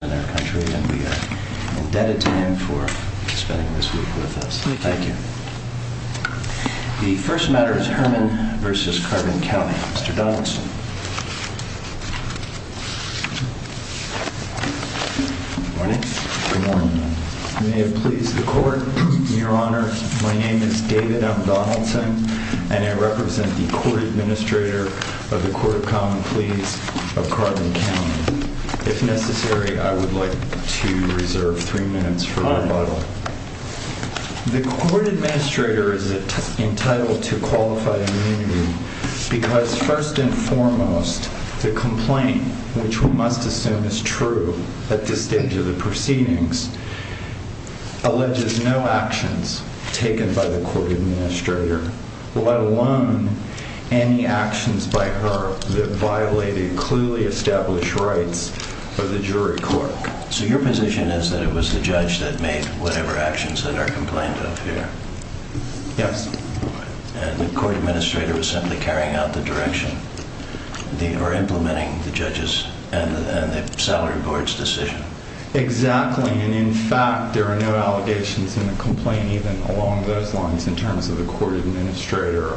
The first matter is Herman v. Carbon County. Mr. Donaldson. Good morning. May it please the Court, Your Honor, my name is David M. Donaldson and I represent the Court Administrator of the Court of Common Pleas of Carbon County. If necessary, I would like to reserve three minutes for rebuttal. The Court Administrator is entitled to qualified immunity because, first and foremost, the complaint, which we must assume is true at this stage of the proceedings, alleges no actions taken by the Court Administrator, let alone any actions by her that violated clearly established rights of the jury court. So your position is that it was the judge that made whatever actions that are complained of here? Yes. And the Court Administrator was simply carrying out the direction, or implementing the judge's and the salary board's decision? Exactly. And, in fact, there are no allegations in the complaint even along those lines in terms of the Court Administrator.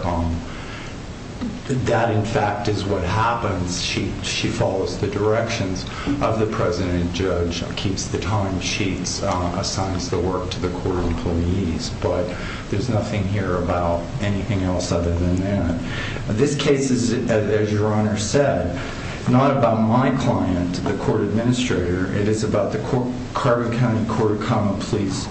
That, in fact, is what happens. She follows the directions of the President and Judge, keeps the time sheets, assigns the work to the Court of Employees. But there's nothing here about anything else other than that. This case is, as Your Honor said, not about my client, the Court Administrator. It is about the Carbon County Court of Common Pleas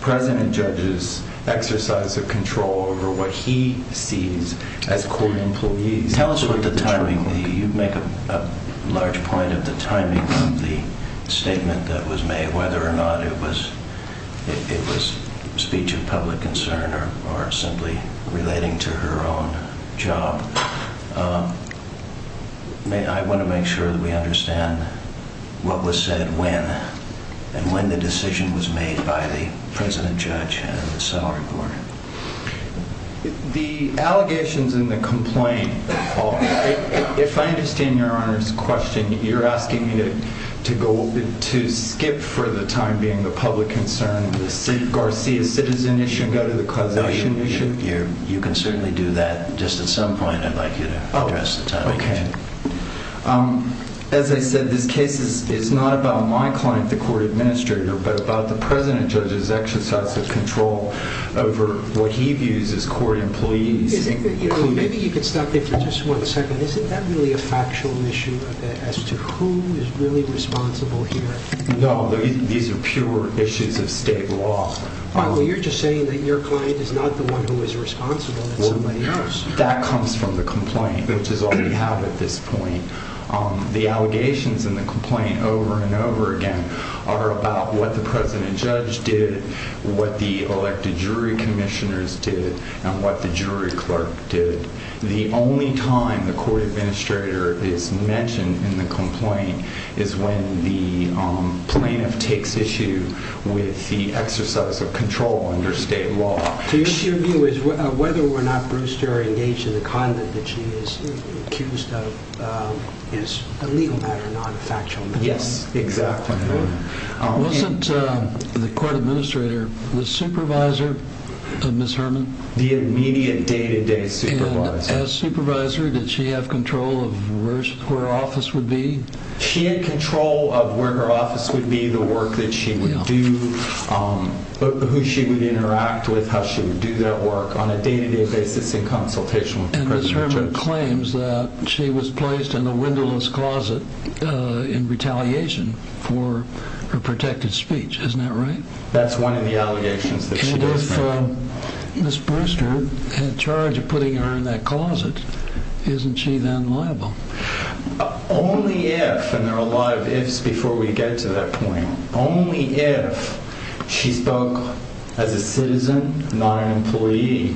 President and Judge's exercise of control over what he sees as court employees. You make a large point of the timing of the statement that was made, whether or not it was speech of public concern or simply relating to her own job. I want to make sure that we understand what was said when, and when the decision was made by the President, Judge, and the salary board. The allegations in the complaint, if I understand Your Honor's question, you're asking me to skip for the time being the public concern, the St. Garcia citizen issue, and go to the causation issue? You can certainly do that. Just at some point, I'd like you to address the timing. As I said, this case is not about my client, the Court Administrator, but about the President and Judge's exercise of control over what he views as court employees. Maybe you can stop there for just one second. Isn't that really a factual issue as to who is really responsible here? No, these are pure issues of state law. You're just saying that your client is not the one who is responsible, it's somebody else. That comes from the complaint, which is all we have at this point. The allegations in the complaint over and over again are about what the President and Judge did, what the elected jury commissioners did, and what the jury clerk did. The only time the Court Administrator is mentioned in the complaint is when the plaintiff takes issue with the exercise of control under state law. So your view is whether or not Brewster is engaged in the conduct that she is accused of is a legal matter, not a factual matter? Yes, exactly. Wasn't the Court Administrator the supervisor of Ms. Herman? The immediate, day-to-day supervisor. And as supervisor, did she have control of where her office would be? She had control of where her office would be, the work that she would do, who she would interact with, how she would do that work, on a day-to-day basis in consultation with the President and Judge. And Ms. Herman claims that she was placed in a windowless closet in retaliation for her protected speech. Isn't that right? That's one of the allegations that she does make. And if Ms. Brewster had charge of putting her in that closet, isn't she then liable? Only if, and there are a lot of ifs before we get to that point, only if she spoke as a citizen, not an employee,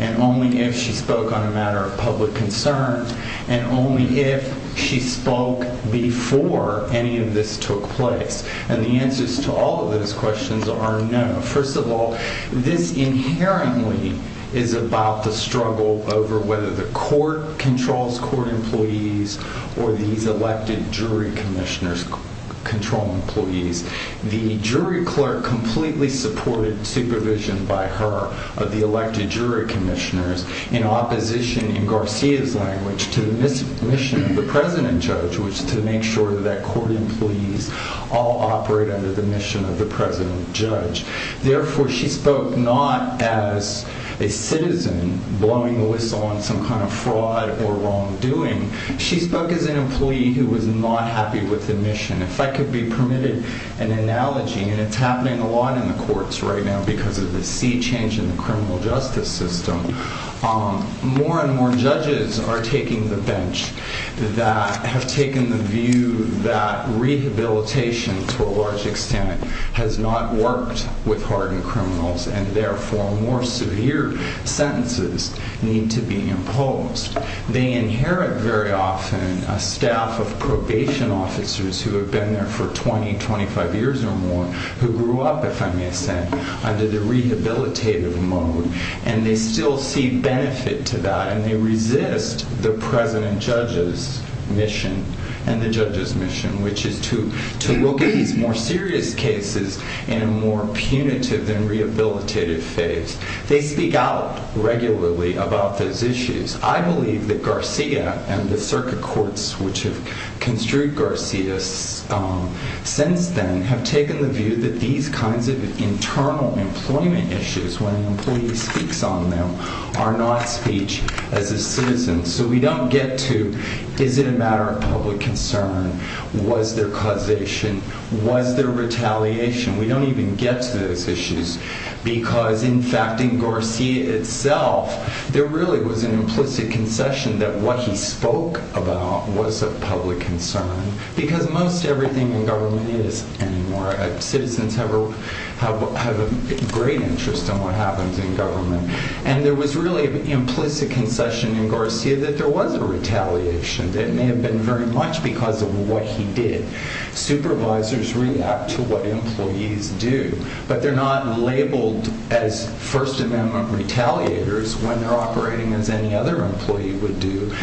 and only if she spoke on a matter of public concern, and only if she spoke before any of this took place. And the answers to all of those questions are no. First of all, this inherently is about the struggle over whether the court controls court employees or these elected jury commissioners control employees. The jury clerk completely supported supervision by her of the elected jury commissioners in opposition, in Garcia's language, to the mission of the President and Judge, which is to make sure that court employees all operate under the mission of the President and Judge. Therefore, she spoke not as a citizen blowing the whistle on some kind of fraud or wrongdoing. She spoke as an employee who was not happy with the mission. If I could be permitted an analogy, and it's happening a lot in the courts right now because of the sea change in the criminal justice system, more and more judges are taking the bench that have taken the view that rehabilitation, to a large extent, has not worked with hardened criminals, and therefore more severe sentences need to be imposed. They inherit very often a staff of probation officers who have been there for 20, 25 years or more, who grew up, if I may say, under the rehabilitative mode, and they still see benefit to that, and they resist the President and Judge's mission, and the Judge's mission, which is to look at these more serious cases in a more punitive than rehabilitative phase. They speak out regularly about those issues. I believe that Garcia and the circuit courts which have construed Garcia since then have taken the view that these kinds of internal employment issues, when an employee speaks on them, are not speech as a citizen. So we don't get to, is it a matter of public concern? Was there causation? Was there retaliation? We don't even get to those issues because, in fact, in Garcia itself, there really was an implicit concession that what he spoke about was of public concern because most everything in government is anymore. Citizens have a great interest in what happens in government. And there was really an implicit concession in Garcia that there was a retaliation. It may have been very much because of what he did. Supervisors react to what employees do, but they're not labeled as First Amendment retaliators when they're operating as any other employee would do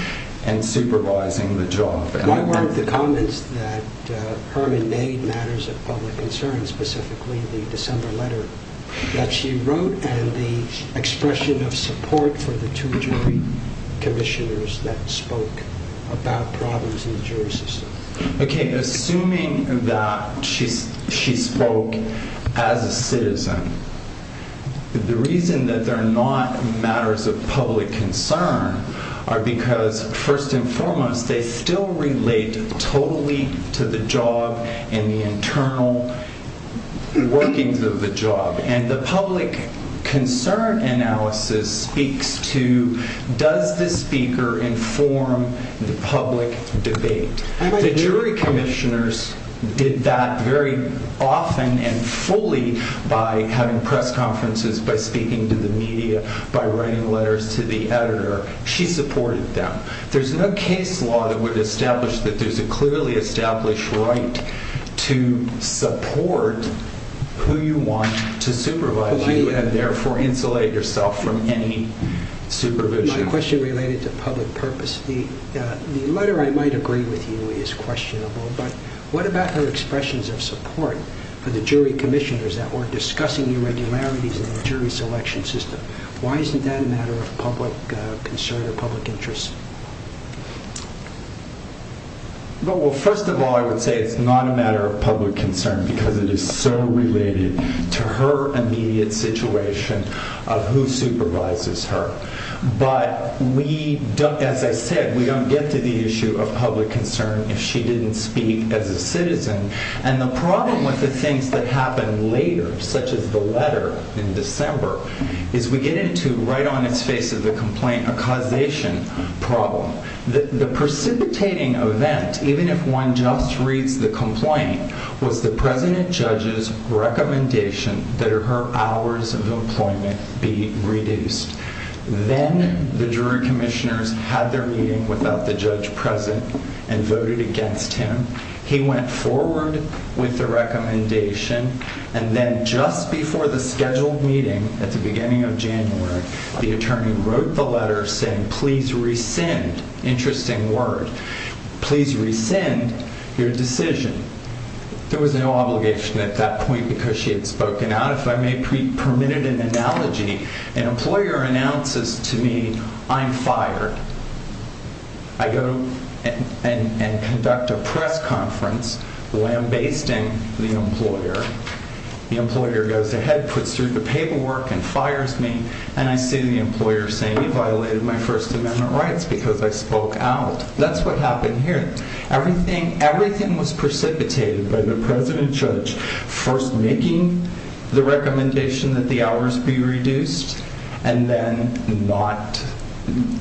and supervising the job. Why weren't the comments that Herman made matters of public concern, specifically the December letter that she wrote and the expression of support for the two jury commissioners that spoke about problems in the jury system? Okay, assuming that she spoke as a citizen, the reason that they're not matters of public concern are because, first and foremost, they still relate totally to the job and the internal workings of the job. And the public concern analysis speaks to, does the speaker inform the public debate? The jury commissioners did that very often and fully by having press conferences, by speaking to the media, by writing letters to the editor. She supported them. There's no case law that would establish that there's a clearly established right to support who you want to supervise you and therefore insulate yourself from any supervision. My question related to public purpose, the letter I might agree with you is questionable, but what about her expressions of support for the jury commissioners that were discussing irregularities in the jury selection system? Why isn't that a matter of public concern or public interest? Well, first of all, I would say it's not a matter of public concern because it is so related to her immediate situation of who supervises her. But, as I said, we don't get to the issue of public concern if she didn't speak as a citizen. And the problem with the things that happen later, such as the letter in December, is we get into right on its face of the complaint a causation problem. The precipitating event, even if one just reads the complaint, was the president judge's recommendation that her hours of employment be reduced. Then the jury commissioners had their meeting without the judge present and voted against him. He went forward with the recommendation, and then just before the scheduled meeting at the beginning of January, the attorney wrote the letter saying, please rescind, interesting word, please rescind your decision. There was no obligation at that point because she had spoken out. If I may be permitted an analogy, an employer announces to me, I'm fired. I go and conduct a press conference lambasting the employer. The employer goes ahead, puts through the paperwork, and fires me, and I see the employer saying he violated my First Amendment rights because I spoke out. That's what happened here. Everything was precipitated by the president judge first making the recommendation that the hours be reduced, and then not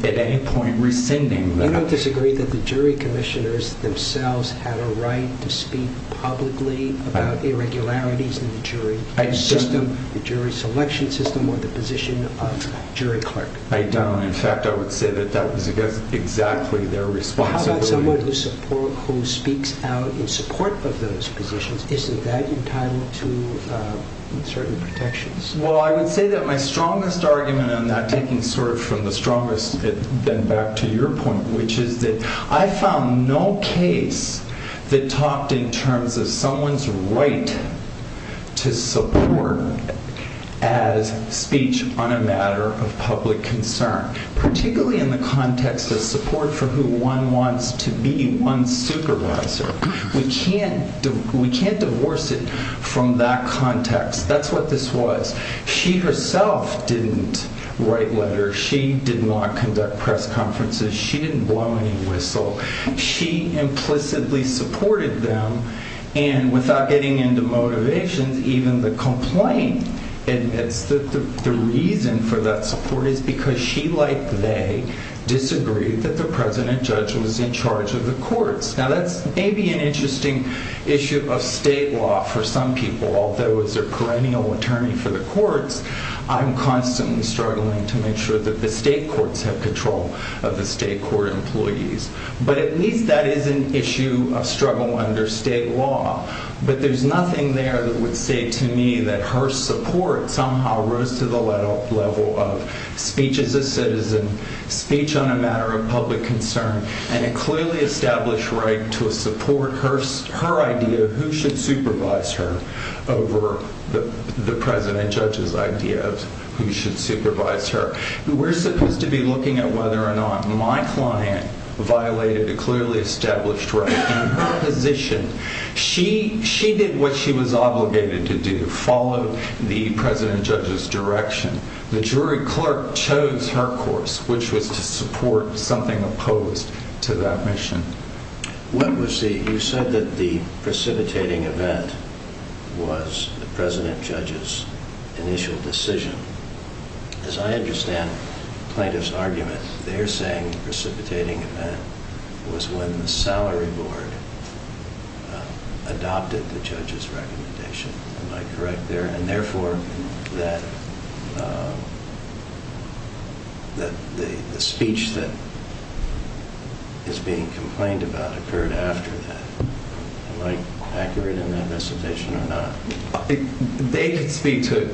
at any point rescinding them. I don't disagree that the jury commissioners themselves had a right to speak publicly about irregularities in the jury system, the jury selection system, or the position of jury clerk. I don't. In fact, I would say that that was exactly their responsibility. How about someone who speaks out in support of those positions? Isn't that entitled to certain protections? Well, I would say that my strongest argument on that, taking from the strongest then back to your point, which is that I found no case that talked in terms of someone's right to support as speech on a matter of public concern, particularly in the context of support for who one wants to be, one's supervisor. We can't divorce it from that context. That's what this was. She herself didn't write letters. She didn't want to conduct press conferences. She didn't blow any whistle. She implicitly supported them, and without getting into motivations, even the complaint admits that the reason for that support is because she, like they, disagreed that the president judge was in charge of the courts. Now, that may be an interesting issue of state law for some people. Although as a perennial attorney for the courts, I'm constantly struggling to make sure that the state courts have control of the state court employees. But at least that is an issue of struggle under state law. But there's nothing there that would say to me that her support somehow rose to the level of speech as a citizen, speech on a matter of public concern, and a clearly established right to support her idea of who should supervise her over the president judge's idea of who should supervise her. We're supposed to be looking at whether or not my client violated a clearly established right in her position. She did what she was obligated to do, follow the president judge's direction. The jury clerk chose her course, which was to support something opposed to that mission. You said that the precipitating event was the president judge's initial decision. As I understand the plaintiff's argument, they're saying the precipitating event was when the salary board adopted the judge's recommendation. Am I correct there? And therefore, the speech that is being complained about occurred after that. Am I accurate in that recommendation or not? They can speak to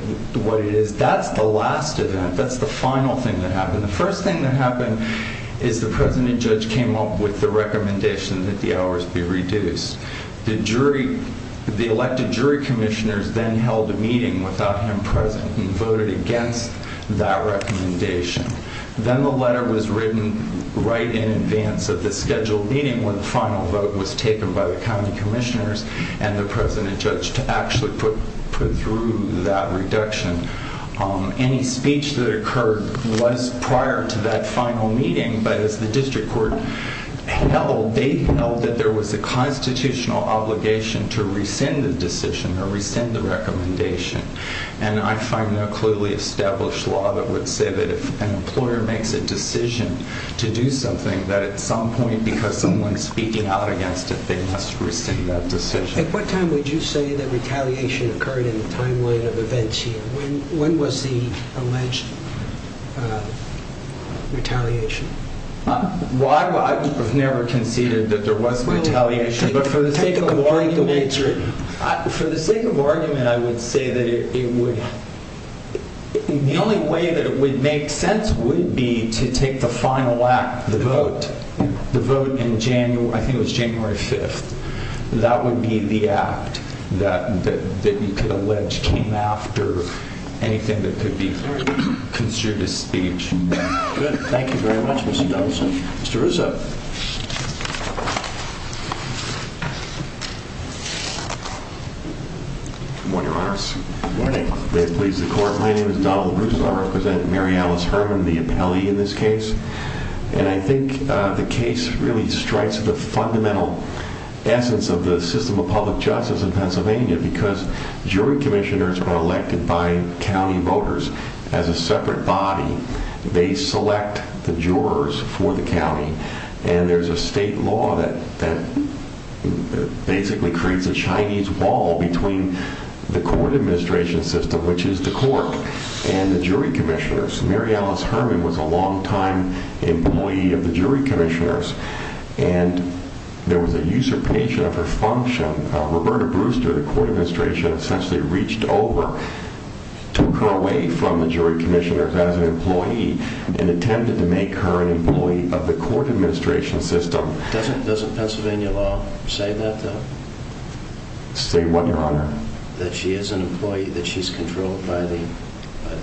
what it is. That's the last event. That's the final thing that happened. The first thing that happened is the president judge came up with the recommendation that the hours be reduced. The jury, the elected jury commissioners then held a meeting without him present and voted against that recommendation. Then the letter was written right in advance of the scheduled meeting when the final vote was taken by the county commissioners and the president judge to actually put through that reduction. Any speech that occurred was prior to that final meeting, but as the district court held, they held that there was a constitutional obligation to rescind the decision or rescind the recommendation. I find no clearly established law that would say that if an employer makes a decision to do something, that at some point, because someone's speaking out against it, they must rescind that decision. At what time would you say that retaliation occurred in the timeline of events here? When was the alleged retaliation? I've never conceded that there was retaliation, but for the sake of argument, I would say that it would. The only way that it would make sense would be to take the final act, the vote. The vote in January, I think it was January 5th. That would be the act that you could allege came after anything that could be considered a speech. Good. Thank you very much, Mr. Douglasson. Mr. Rousseau. Good morning, Your Honor. Good morning. May it please the court. My name is Donald Rousseau. I represent Mary Alice Herman, the appellee in this case. I think the case really strikes the fundamental essence of the system of public justice in Pennsylvania because jury commissioners are elected by county voters as a separate body. They select the jurors for the county, and there's a state law that basically creates a Chinese wall between the court administration system, which is the court, and the jury commissioners. Mary Alice Herman was a longtime employee of the jury commissioners, and there was a usurpation of her function. Roberta Brewster, the court administration, essentially reached over, took her away from the jury commissioners as an employee, and intended to make her an employee of the court administration system. Doesn't Pennsylvania law say that, though? Say what, Your Honor? That she is an employee, that she's controlled by the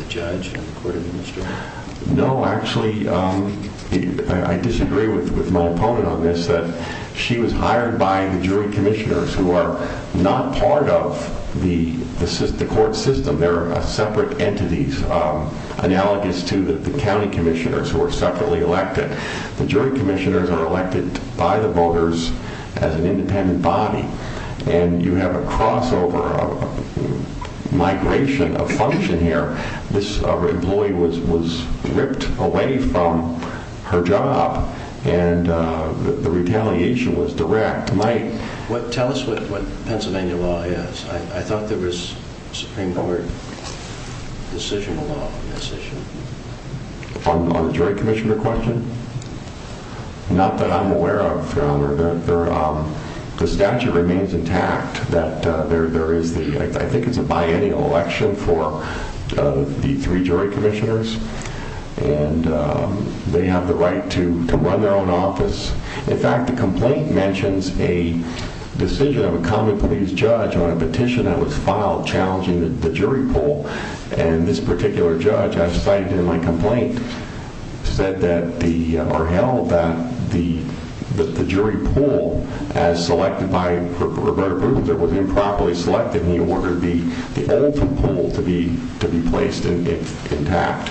judge and the court administration? No, actually, I disagree with my opponent on this, that she was hired by the jury commissioners, who are not part of the court system. They're separate entities, analogous to the county commissioners who are separately elected. The jury commissioners are elected by the voters as an independent body, and you have a crossover of migration of function here. This employee was ripped away from her job, and the retaliation was direct. Tell us what Pennsylvania law is. I thought there was Supreme Court decisional law on this issue. On the jury commissioner question? Not that I'm aware of, Your Honor. The statute remains intact, that there is the, I think it's a biennial election for the three jury commissioners, and they have the right to run their own office. In fact, the complaint mentions a decision of a common police judge on a petition that was filed challenging the jury pool. And this particular judge, as cited in my complaint, said that the, or held that the jury pool, as selected by Roberto Prudenz, it was improperly selected, and he ordered the old pool to be placed intact.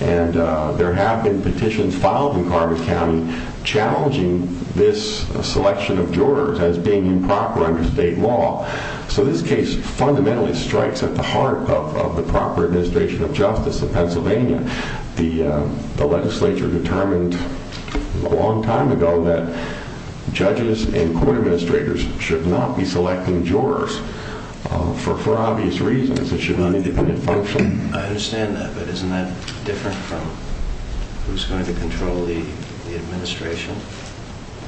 And there have been petitions filed in Carver County challenging this selection of jurors as being improper under state law. So this case fundamentally strikes at the heart of the proper administration of justice in Pennsylvania. The legislature determined a long time ago that judges and court administrators should not be selecting jurors for obvious reasons. It should be an independent function. I understand that, but isn't that different from who's going to control the administration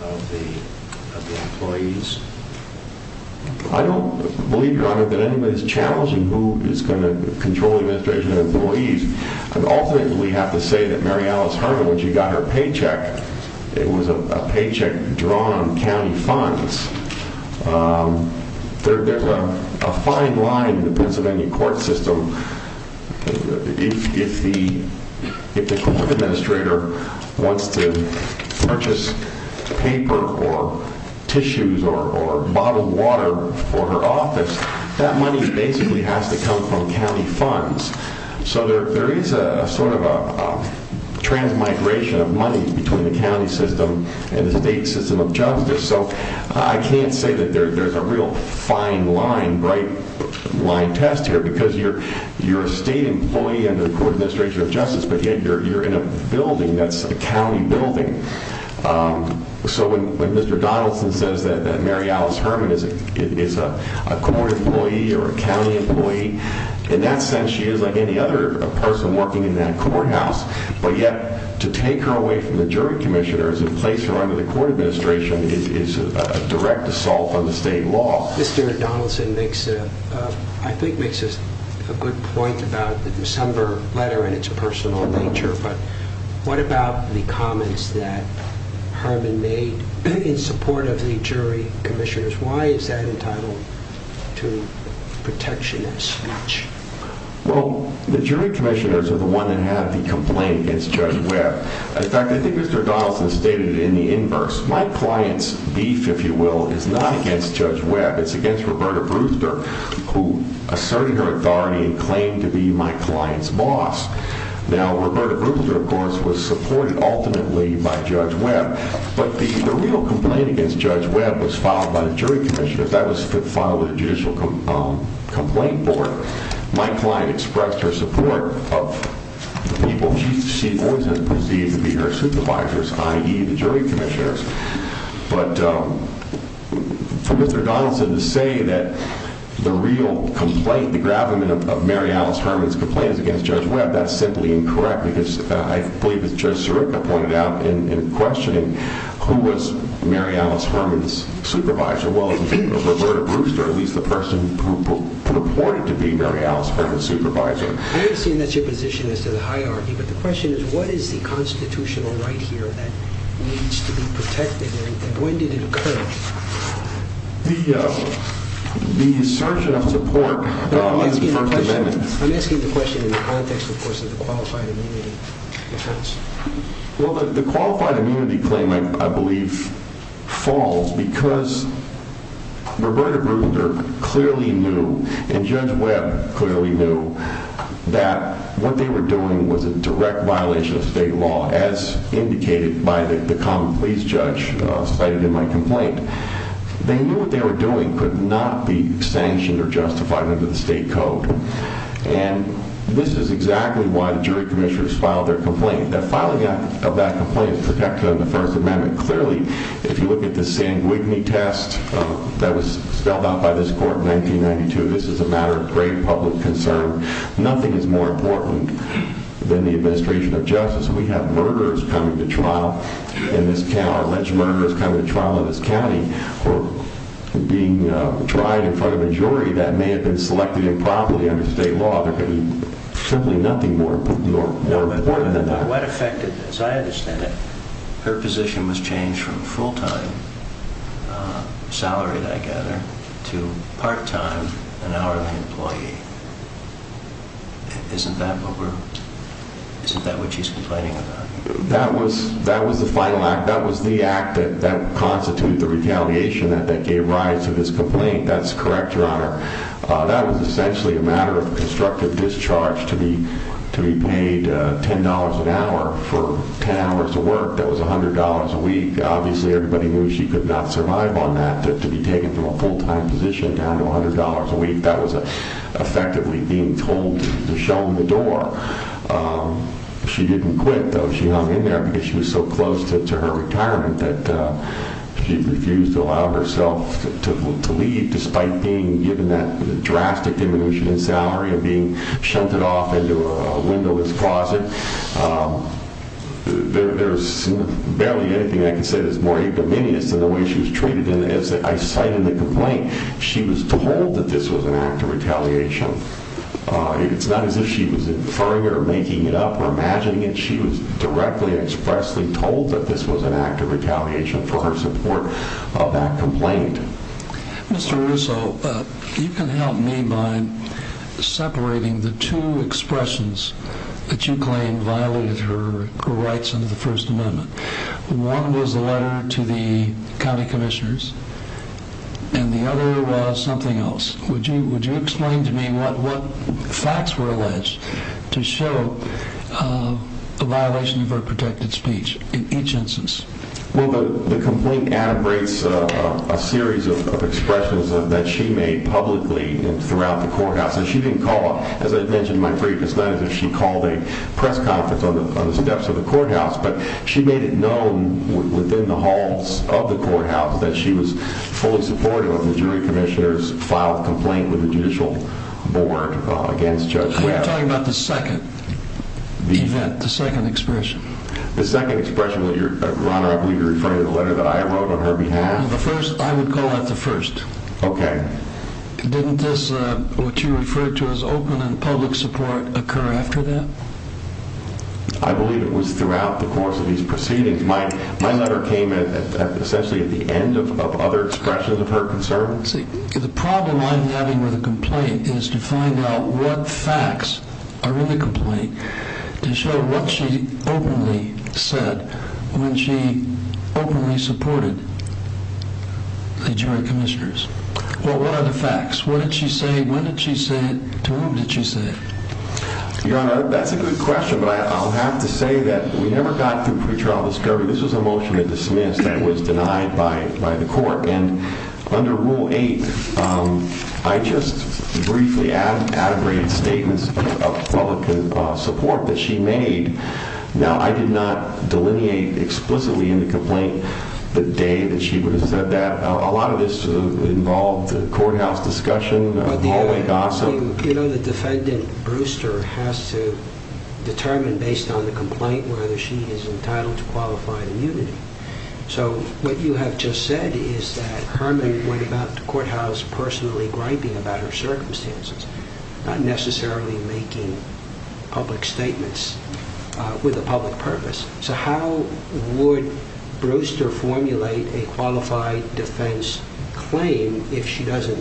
of the employees? I don't believe, Your Honor, that anybody's challenging who is going to control the administration of employees. Ultimately, we have to say that Mary Alice Herman, when she got her paycheck, it was a paycheck drawn on county funds. There's a fine line in the Pennsylvania court system. If the court administrator wants to purchase paper or tissues or bottled water for her office, that money basically has to come from county funds. So there is a sort of a transmigration of money between the county system and the state system of justice. So I can't say that there's a real fine line, bright line test here, because you're a state employee under the court administration of justice, but yet you're in a building that's a county building. So when Mr. Donaldson says that Mary Alice Herman is a court employee or a county employee, in that sense she is like any other person working in that courthouse. But yet, to take her away from the jury commissioners and place her under the court administration is a direct assault on the state law. Mr. Donaldson makes, I think, makes a good point about the December letter and its personal nature, but what about the comments that Herman made in support of the jury commissioners? Why is that entitled to protectionist speech? Well, the jury commissioners are the ones that have the complaint against Judge Webb. In fact, I think Mr. Donaldson stated it in the inverse. My client's beef, if you will, is not against Judge Webb. It's against Roberta Brewster, who asserted her authority and claimed to be my client's boss. Now, Roberta Brewster, of course, was supported ultimately by Judge Webb, but the real complaint against Judge Webb was filed by the jury commissioners. Because that was filed with the Judicial Complaint Board, my client expressed her support of the people she always has perceived to be her supervisors, i.e., the jury commissioners. But for Mr. Donaldson to say that the real complaint, the gravamen of Mary Alice Herman's complaint is against Judge Webb, that's simply incorrect because I believe as Judge Sirica pointed out in questioning, who was Mary Alice Herman's supervisor? Well, it was Roberta Brewster, at least the person who purported to be Mary Alice Herman's supervisor. I understand that's your position as to the hierarchy, but the question is, what is the constitutional right here that needs to be protected, and when did it occur? The assertion of support of the First Amendment… I'm asking the question in the context, of course, of the qualified immunity defense. Well, the qualified immunity claim, I believe, falls because Roberta Brewster clearly knew, and Judge Webb clearly knew, that what they were doing was a direct violation of state law, as indicated by the common pleas judge cited in my complaint. They knew what they were doing could not be sanctioned or justified under the state code, and this is exactly why the jury commissioners filed their complaint. The filing of that complaint is protected under the First Amendment. Clearly, if you look at the Sanguigny test that was spelled out by this court in 1992, this is a matter of grave public concern. Nothing is more important than the administration of justice. We have murderers coming to trial in this county, alleged murderers coming to trial in this county, or being tried in front of a jury that may have been selected improperly under state law. There could be simply nothing more important than that. But what effect did this? I understand that her position was changed from full-time, salaried, I gather, to part-time, an hourly employee. Isn't that what we're… isn't that what she's complaining about? That was the final act. That was the act that constituted the retaliation that gave rise to this complaint. That's correct, Your Honor. That was essentially a matter of constructive discharge to be paid $10 an hour for 10 hours of work. That was $100 a week. Obviously, everybody knew she could not survive on that, to be taken from a full-time position down to $100 a week. That was effectively being told to show them the door. She didn't quit, though. She hung in there because she was so close to her retirement that she refused to allow herself to leave, despite being given that drastic diminution in salary and being shunted off into a windowless closet. There's barely anything I can say that's more egomaniac than the way she was treated. And as I cited in the complaint, she was told that this was an act of retaliation. It's not as if she was inferring it or making it up or imagining it. She was directly and expressly told that this was an act of retaliation for her support of that complaint. Mr. Russo, you can help me by separating the two expressions that you claim violated her rights under the First Amendment. One was a letter to the county commissioners, and the other was something else. Would you explain to me what facts were alleged to show a violation of her protected speech in each instance? Well, the complaint integrates a series of expressions that she made publicly throughout the courthouse. She didn't call, as I mentioned in my brief, it's not as if she called a press conference on the steps of the courthouse. But she made it known within the halls of the courthouse that she was fully supportive of the jury commissioners' filed complaint with the judicial board against Judge Webb. You're talking about the second event, the second expression. The second expression, Your Honor, I believe you're referring to the letter that I wrote on her behalf. I would call that the first. Okay. Didn't this, what you referred to as open and public support, occur after that? I believe it was throughout the course of these proceedings. My letter came essentially at the end of other expressions of her concern. See, the problem I'm having with the complaint is to find out what facts are in the complaint to show what she openly said when she openly supported the jury commissioners. Well, what are the facts? What did she say? When did she say it? To whom did she say it? Your Honor, that's a good question, but I'll have to say that we never got through pretrial discovery. This was a motion to dismiss that was denied by the court. And under Rule 8, I just briefly added statements of public support that she made. Now, I did not delineate explicitly in the complaint the day that she said that. A lot of this involved courthouse discussion, hallway gossip. You know the defendant Brewster has to determine based on the complaint whether she is entitled to qualified immunity. So what you have just said is that Herman went about the courthouse personally griping about her circumstances, not necessarily making public statements with a public purpose. So how would Brewster formulate a qualified defense claim if she doesn't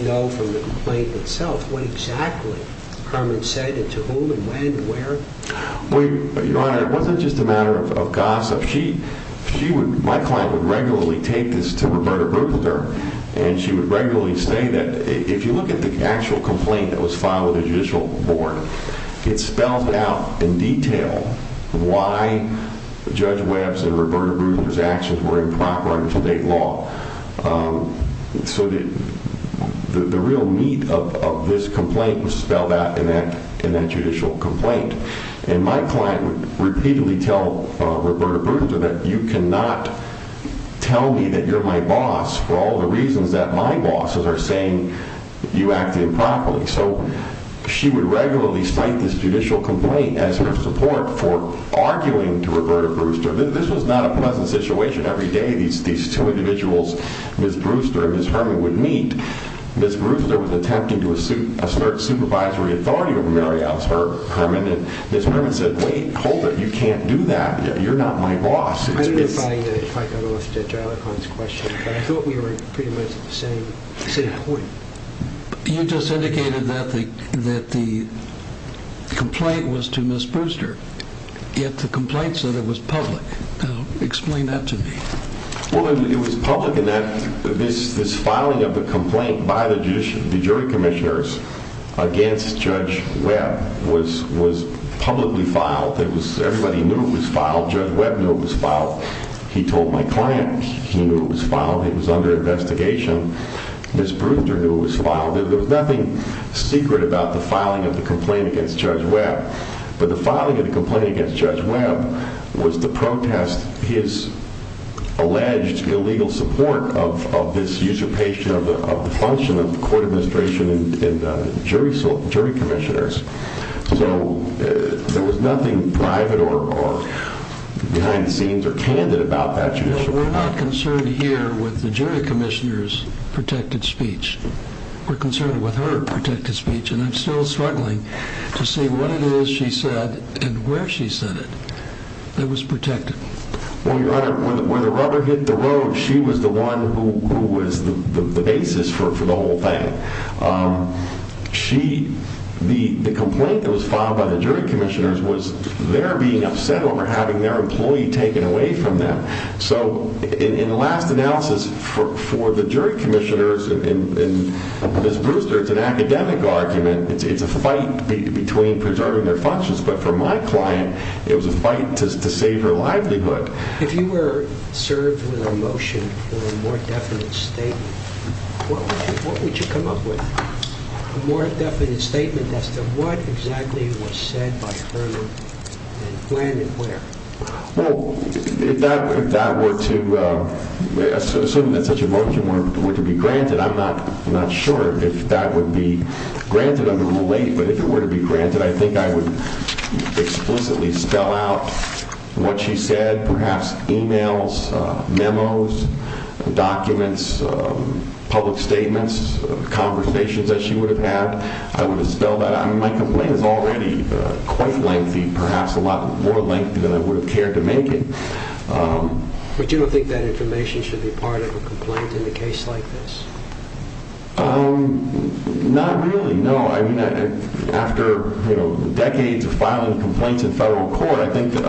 know from the complaint itself what exactly Herman said and to whom and when and where? Well, Your Honor, it wasn't just a matter of gossip. My client would regularly take this to Roberta Brooklyner, and she would regularly say that if you look at the actual complaint that was filed with the judicial board, it's spelled out in detail why Judge Webbs and Roberta Brooklyner's actions were improper under today's law. So the real meat of this complaint was spelled out in that judicial complaint. And my client would repeatedly tell Roberta Brooklyner that you cannot tell me that you're my boss for all the reasons that my bosses are saying you acted improperly. So she would regularly cite this judicial complaint as her support for arguing to Roberta Brewster. This was not a pleasant situation. Every day these two individuals, Ms. Brewster and Ms. Herman, would meet. Ms. Brewster was attempting to assert supervisory authority over Mary Alice Herman, and Ms. Herman said, wait, hold it. You can't do that. You're not my boss. I don't know if I got off to Jonathan's question, but I thought we were pretty much at the same point. You just indicated that the complaint was to Ms. Brewster, yet the complaint said it was public. Explain that to me. Well, it was public in that this filing of the complaint by the jury commissioners against Judge Webb was publicly filed. Everybody knew it was filed. Judge Webb knew it was filed. He told my client he knew it was filed. It was under investigation. Ms. Brewster knew it was filed. There was nothing secret about the filing of the complaint against Judge Webb. But the filing of the complaint against Judge Webb was to protest his alleged illegal support of this usurpation of the function of the court administration and jury commissioners. So there was nothing private or behind the scenes or candid about that judicial file. We're not concerned here with the jury commissioner's protected speech. We're concerned with her protected speech. And I'm still struggling to see what it is she said and where she said it that was protected. Well, Your Honor, when the rubber hit the road, she was the one who was the basis for the whole thing. The complaint that was filed by the jury commissioners was their being upset over having their employee taken away from them. So in the last analysis, for the jury commissioners and Ms. Brewster, it's an academic argument. It's a fight between preserving their functions. But for my client, it was a fight to save her livelihood. If you were served with a motion for a more definite statement, what would you come up with? A more definite statement as to what exactly was said by Herman and when and where? Well, if that were to assume that such a motion were to be granted, I'm not sure if that would be granted under Rule 8. But if it were to be granted, I think I would explicitly spell out what she said. Perhaps e-mails, memos, documents, public statements, conversations that she would have had. My complaint is already quite lengthy, perhaps a lot more lengthy than I would have cared to make it. But you don't think that information should be part of a complaint in a case like this? Not really, no. After decades of filing complaints in federal court, I think that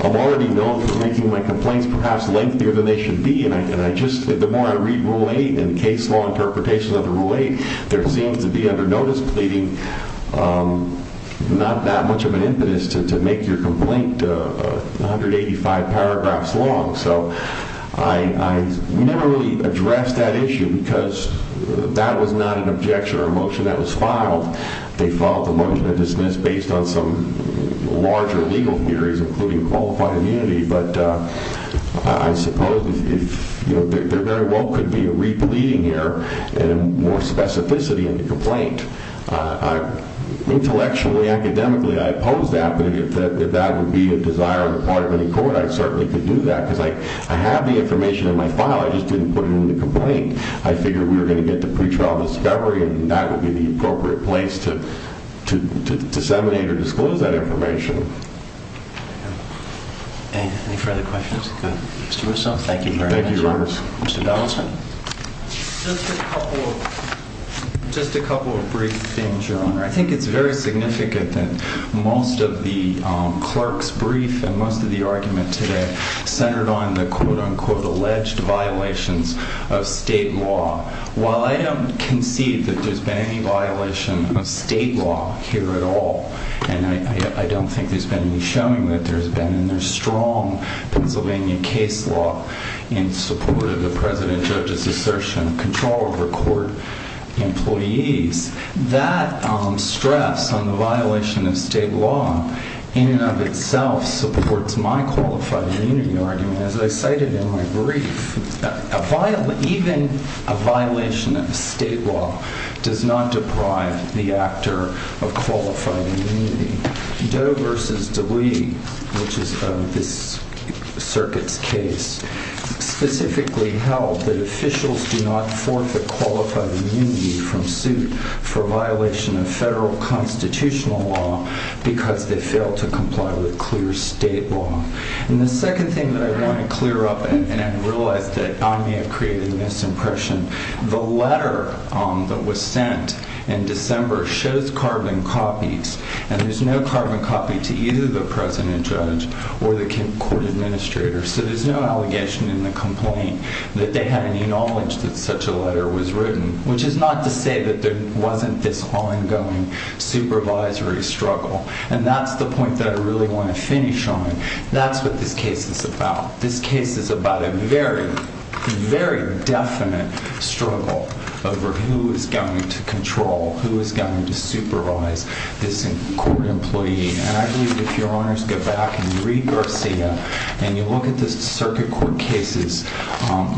I'm already known for making my complaints perhaps lengthier than they should be. The more I read Rule 8 and case law interpretations of the Rule 8, there seems to be under notice pleading not that much of an impetus to make your complaint 185 paragraphs long. So I never really addressed that issue because that was not an objection or a motion that was filed. They filed the motion to dismiss based on some larger legal theories, including qualified immunity. But I suppose there very well could be a re-pleading here and more specificity in the complaint. Intellectually, academically, I oppose that. But if that would be a desire on the part of any court, I certainly could do that. Because I have the information in my file. I just didn't put it in the complaint. I figured we were going to get the pretrial discovery, and that would be the appropriate place to disseminate or disclose that information. Any further questions? Thank you very much. Just a couple of brief things, Your Honor. I think it's very significant that most of the clerk's brief and most of the argument today centered on the quote-unquote alleged violations of state law. While I don't concede that there's been any violation of state law here at all, and I don't think there's been any showing that there's been any strong Pennsylvania case law in support of the President's judge's assertion of control over court employees, that stress on the violation of state law in and of itself supports my qualified immunity argument, as I cited in my brief. Even a violation of state law does not deprive the actor of qualified immunity. Doe v. Dewey, which is this circuit's case, specifically held that officials do not forfeit qualified immunity from suit for violation of federal constitutional law because they fail to comply with clear state law. And the second thing that I want to clear up, and I realize that I may have created a misimpression, the letter that was sent in December shows carbon copies, and there's no carbon copy to either the President's judge or the court administrator, so there's no allegation in the complaint that they had any knowledge that such a letter was written, which is not to say that there wasn't this ongoing supervisory struggle, and that's the point that I really want to finish on. That's what this case is about. This case is about a very, very definite struggle over who is going to control, who is going to supervise this court employee. And I believe if your honors go back and read Garcia and you look at the circuit court cases,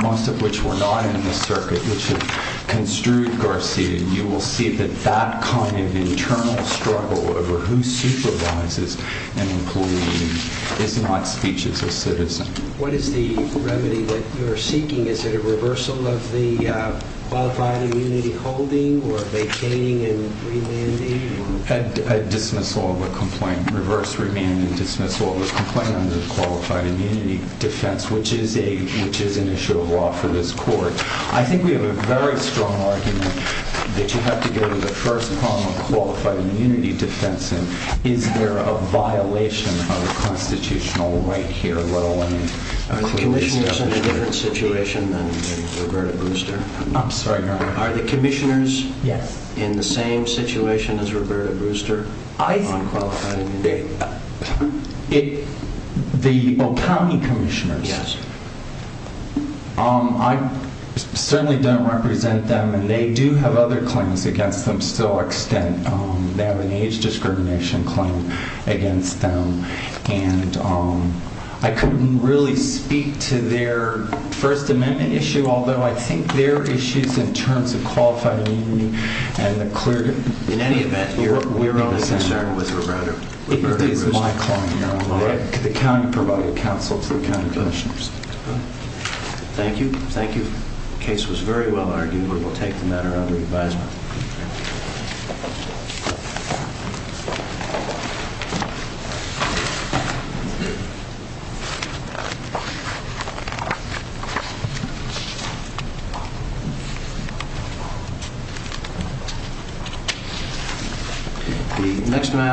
most of which were not in the circuit, which have construed Garcia, you will see that that kind of internal struggle over who supervises an employee is not speech as a citizen. What is the remedy that you are seeking? Is it a reversal of the qualified immunity holding or vacating and remanding? A dismissal of a complaint, reverse remand and dismissal of a complaint under the qualified immunity defense, which is an issue of law for this court. I think we have a very strong argument that you have to go to the first problem of qualified immunity defense. Is there a violation of the constitutional right here? Are the commissioners in a different situation than Roberta Brewster? I'm sorry, your honor. Are the commissioners in the same situation as Roberta Brewster on qualified immunity? The county commissioners? Yes. I certainly don't represent them and they do have other claims against them to some extent. They have an age discrimination claim against them. And I couldn't really speak to their first amendment issue, although I think their issues in terms of qualified immunity and the clear... In any event, your honor... We're only concerned with Roberta Brewster. It is my claim, your honor. The county provided counsel to the county commissioners. Thank you. Thank you. The case was very well argued. We will take the matter under advisement. The next matter...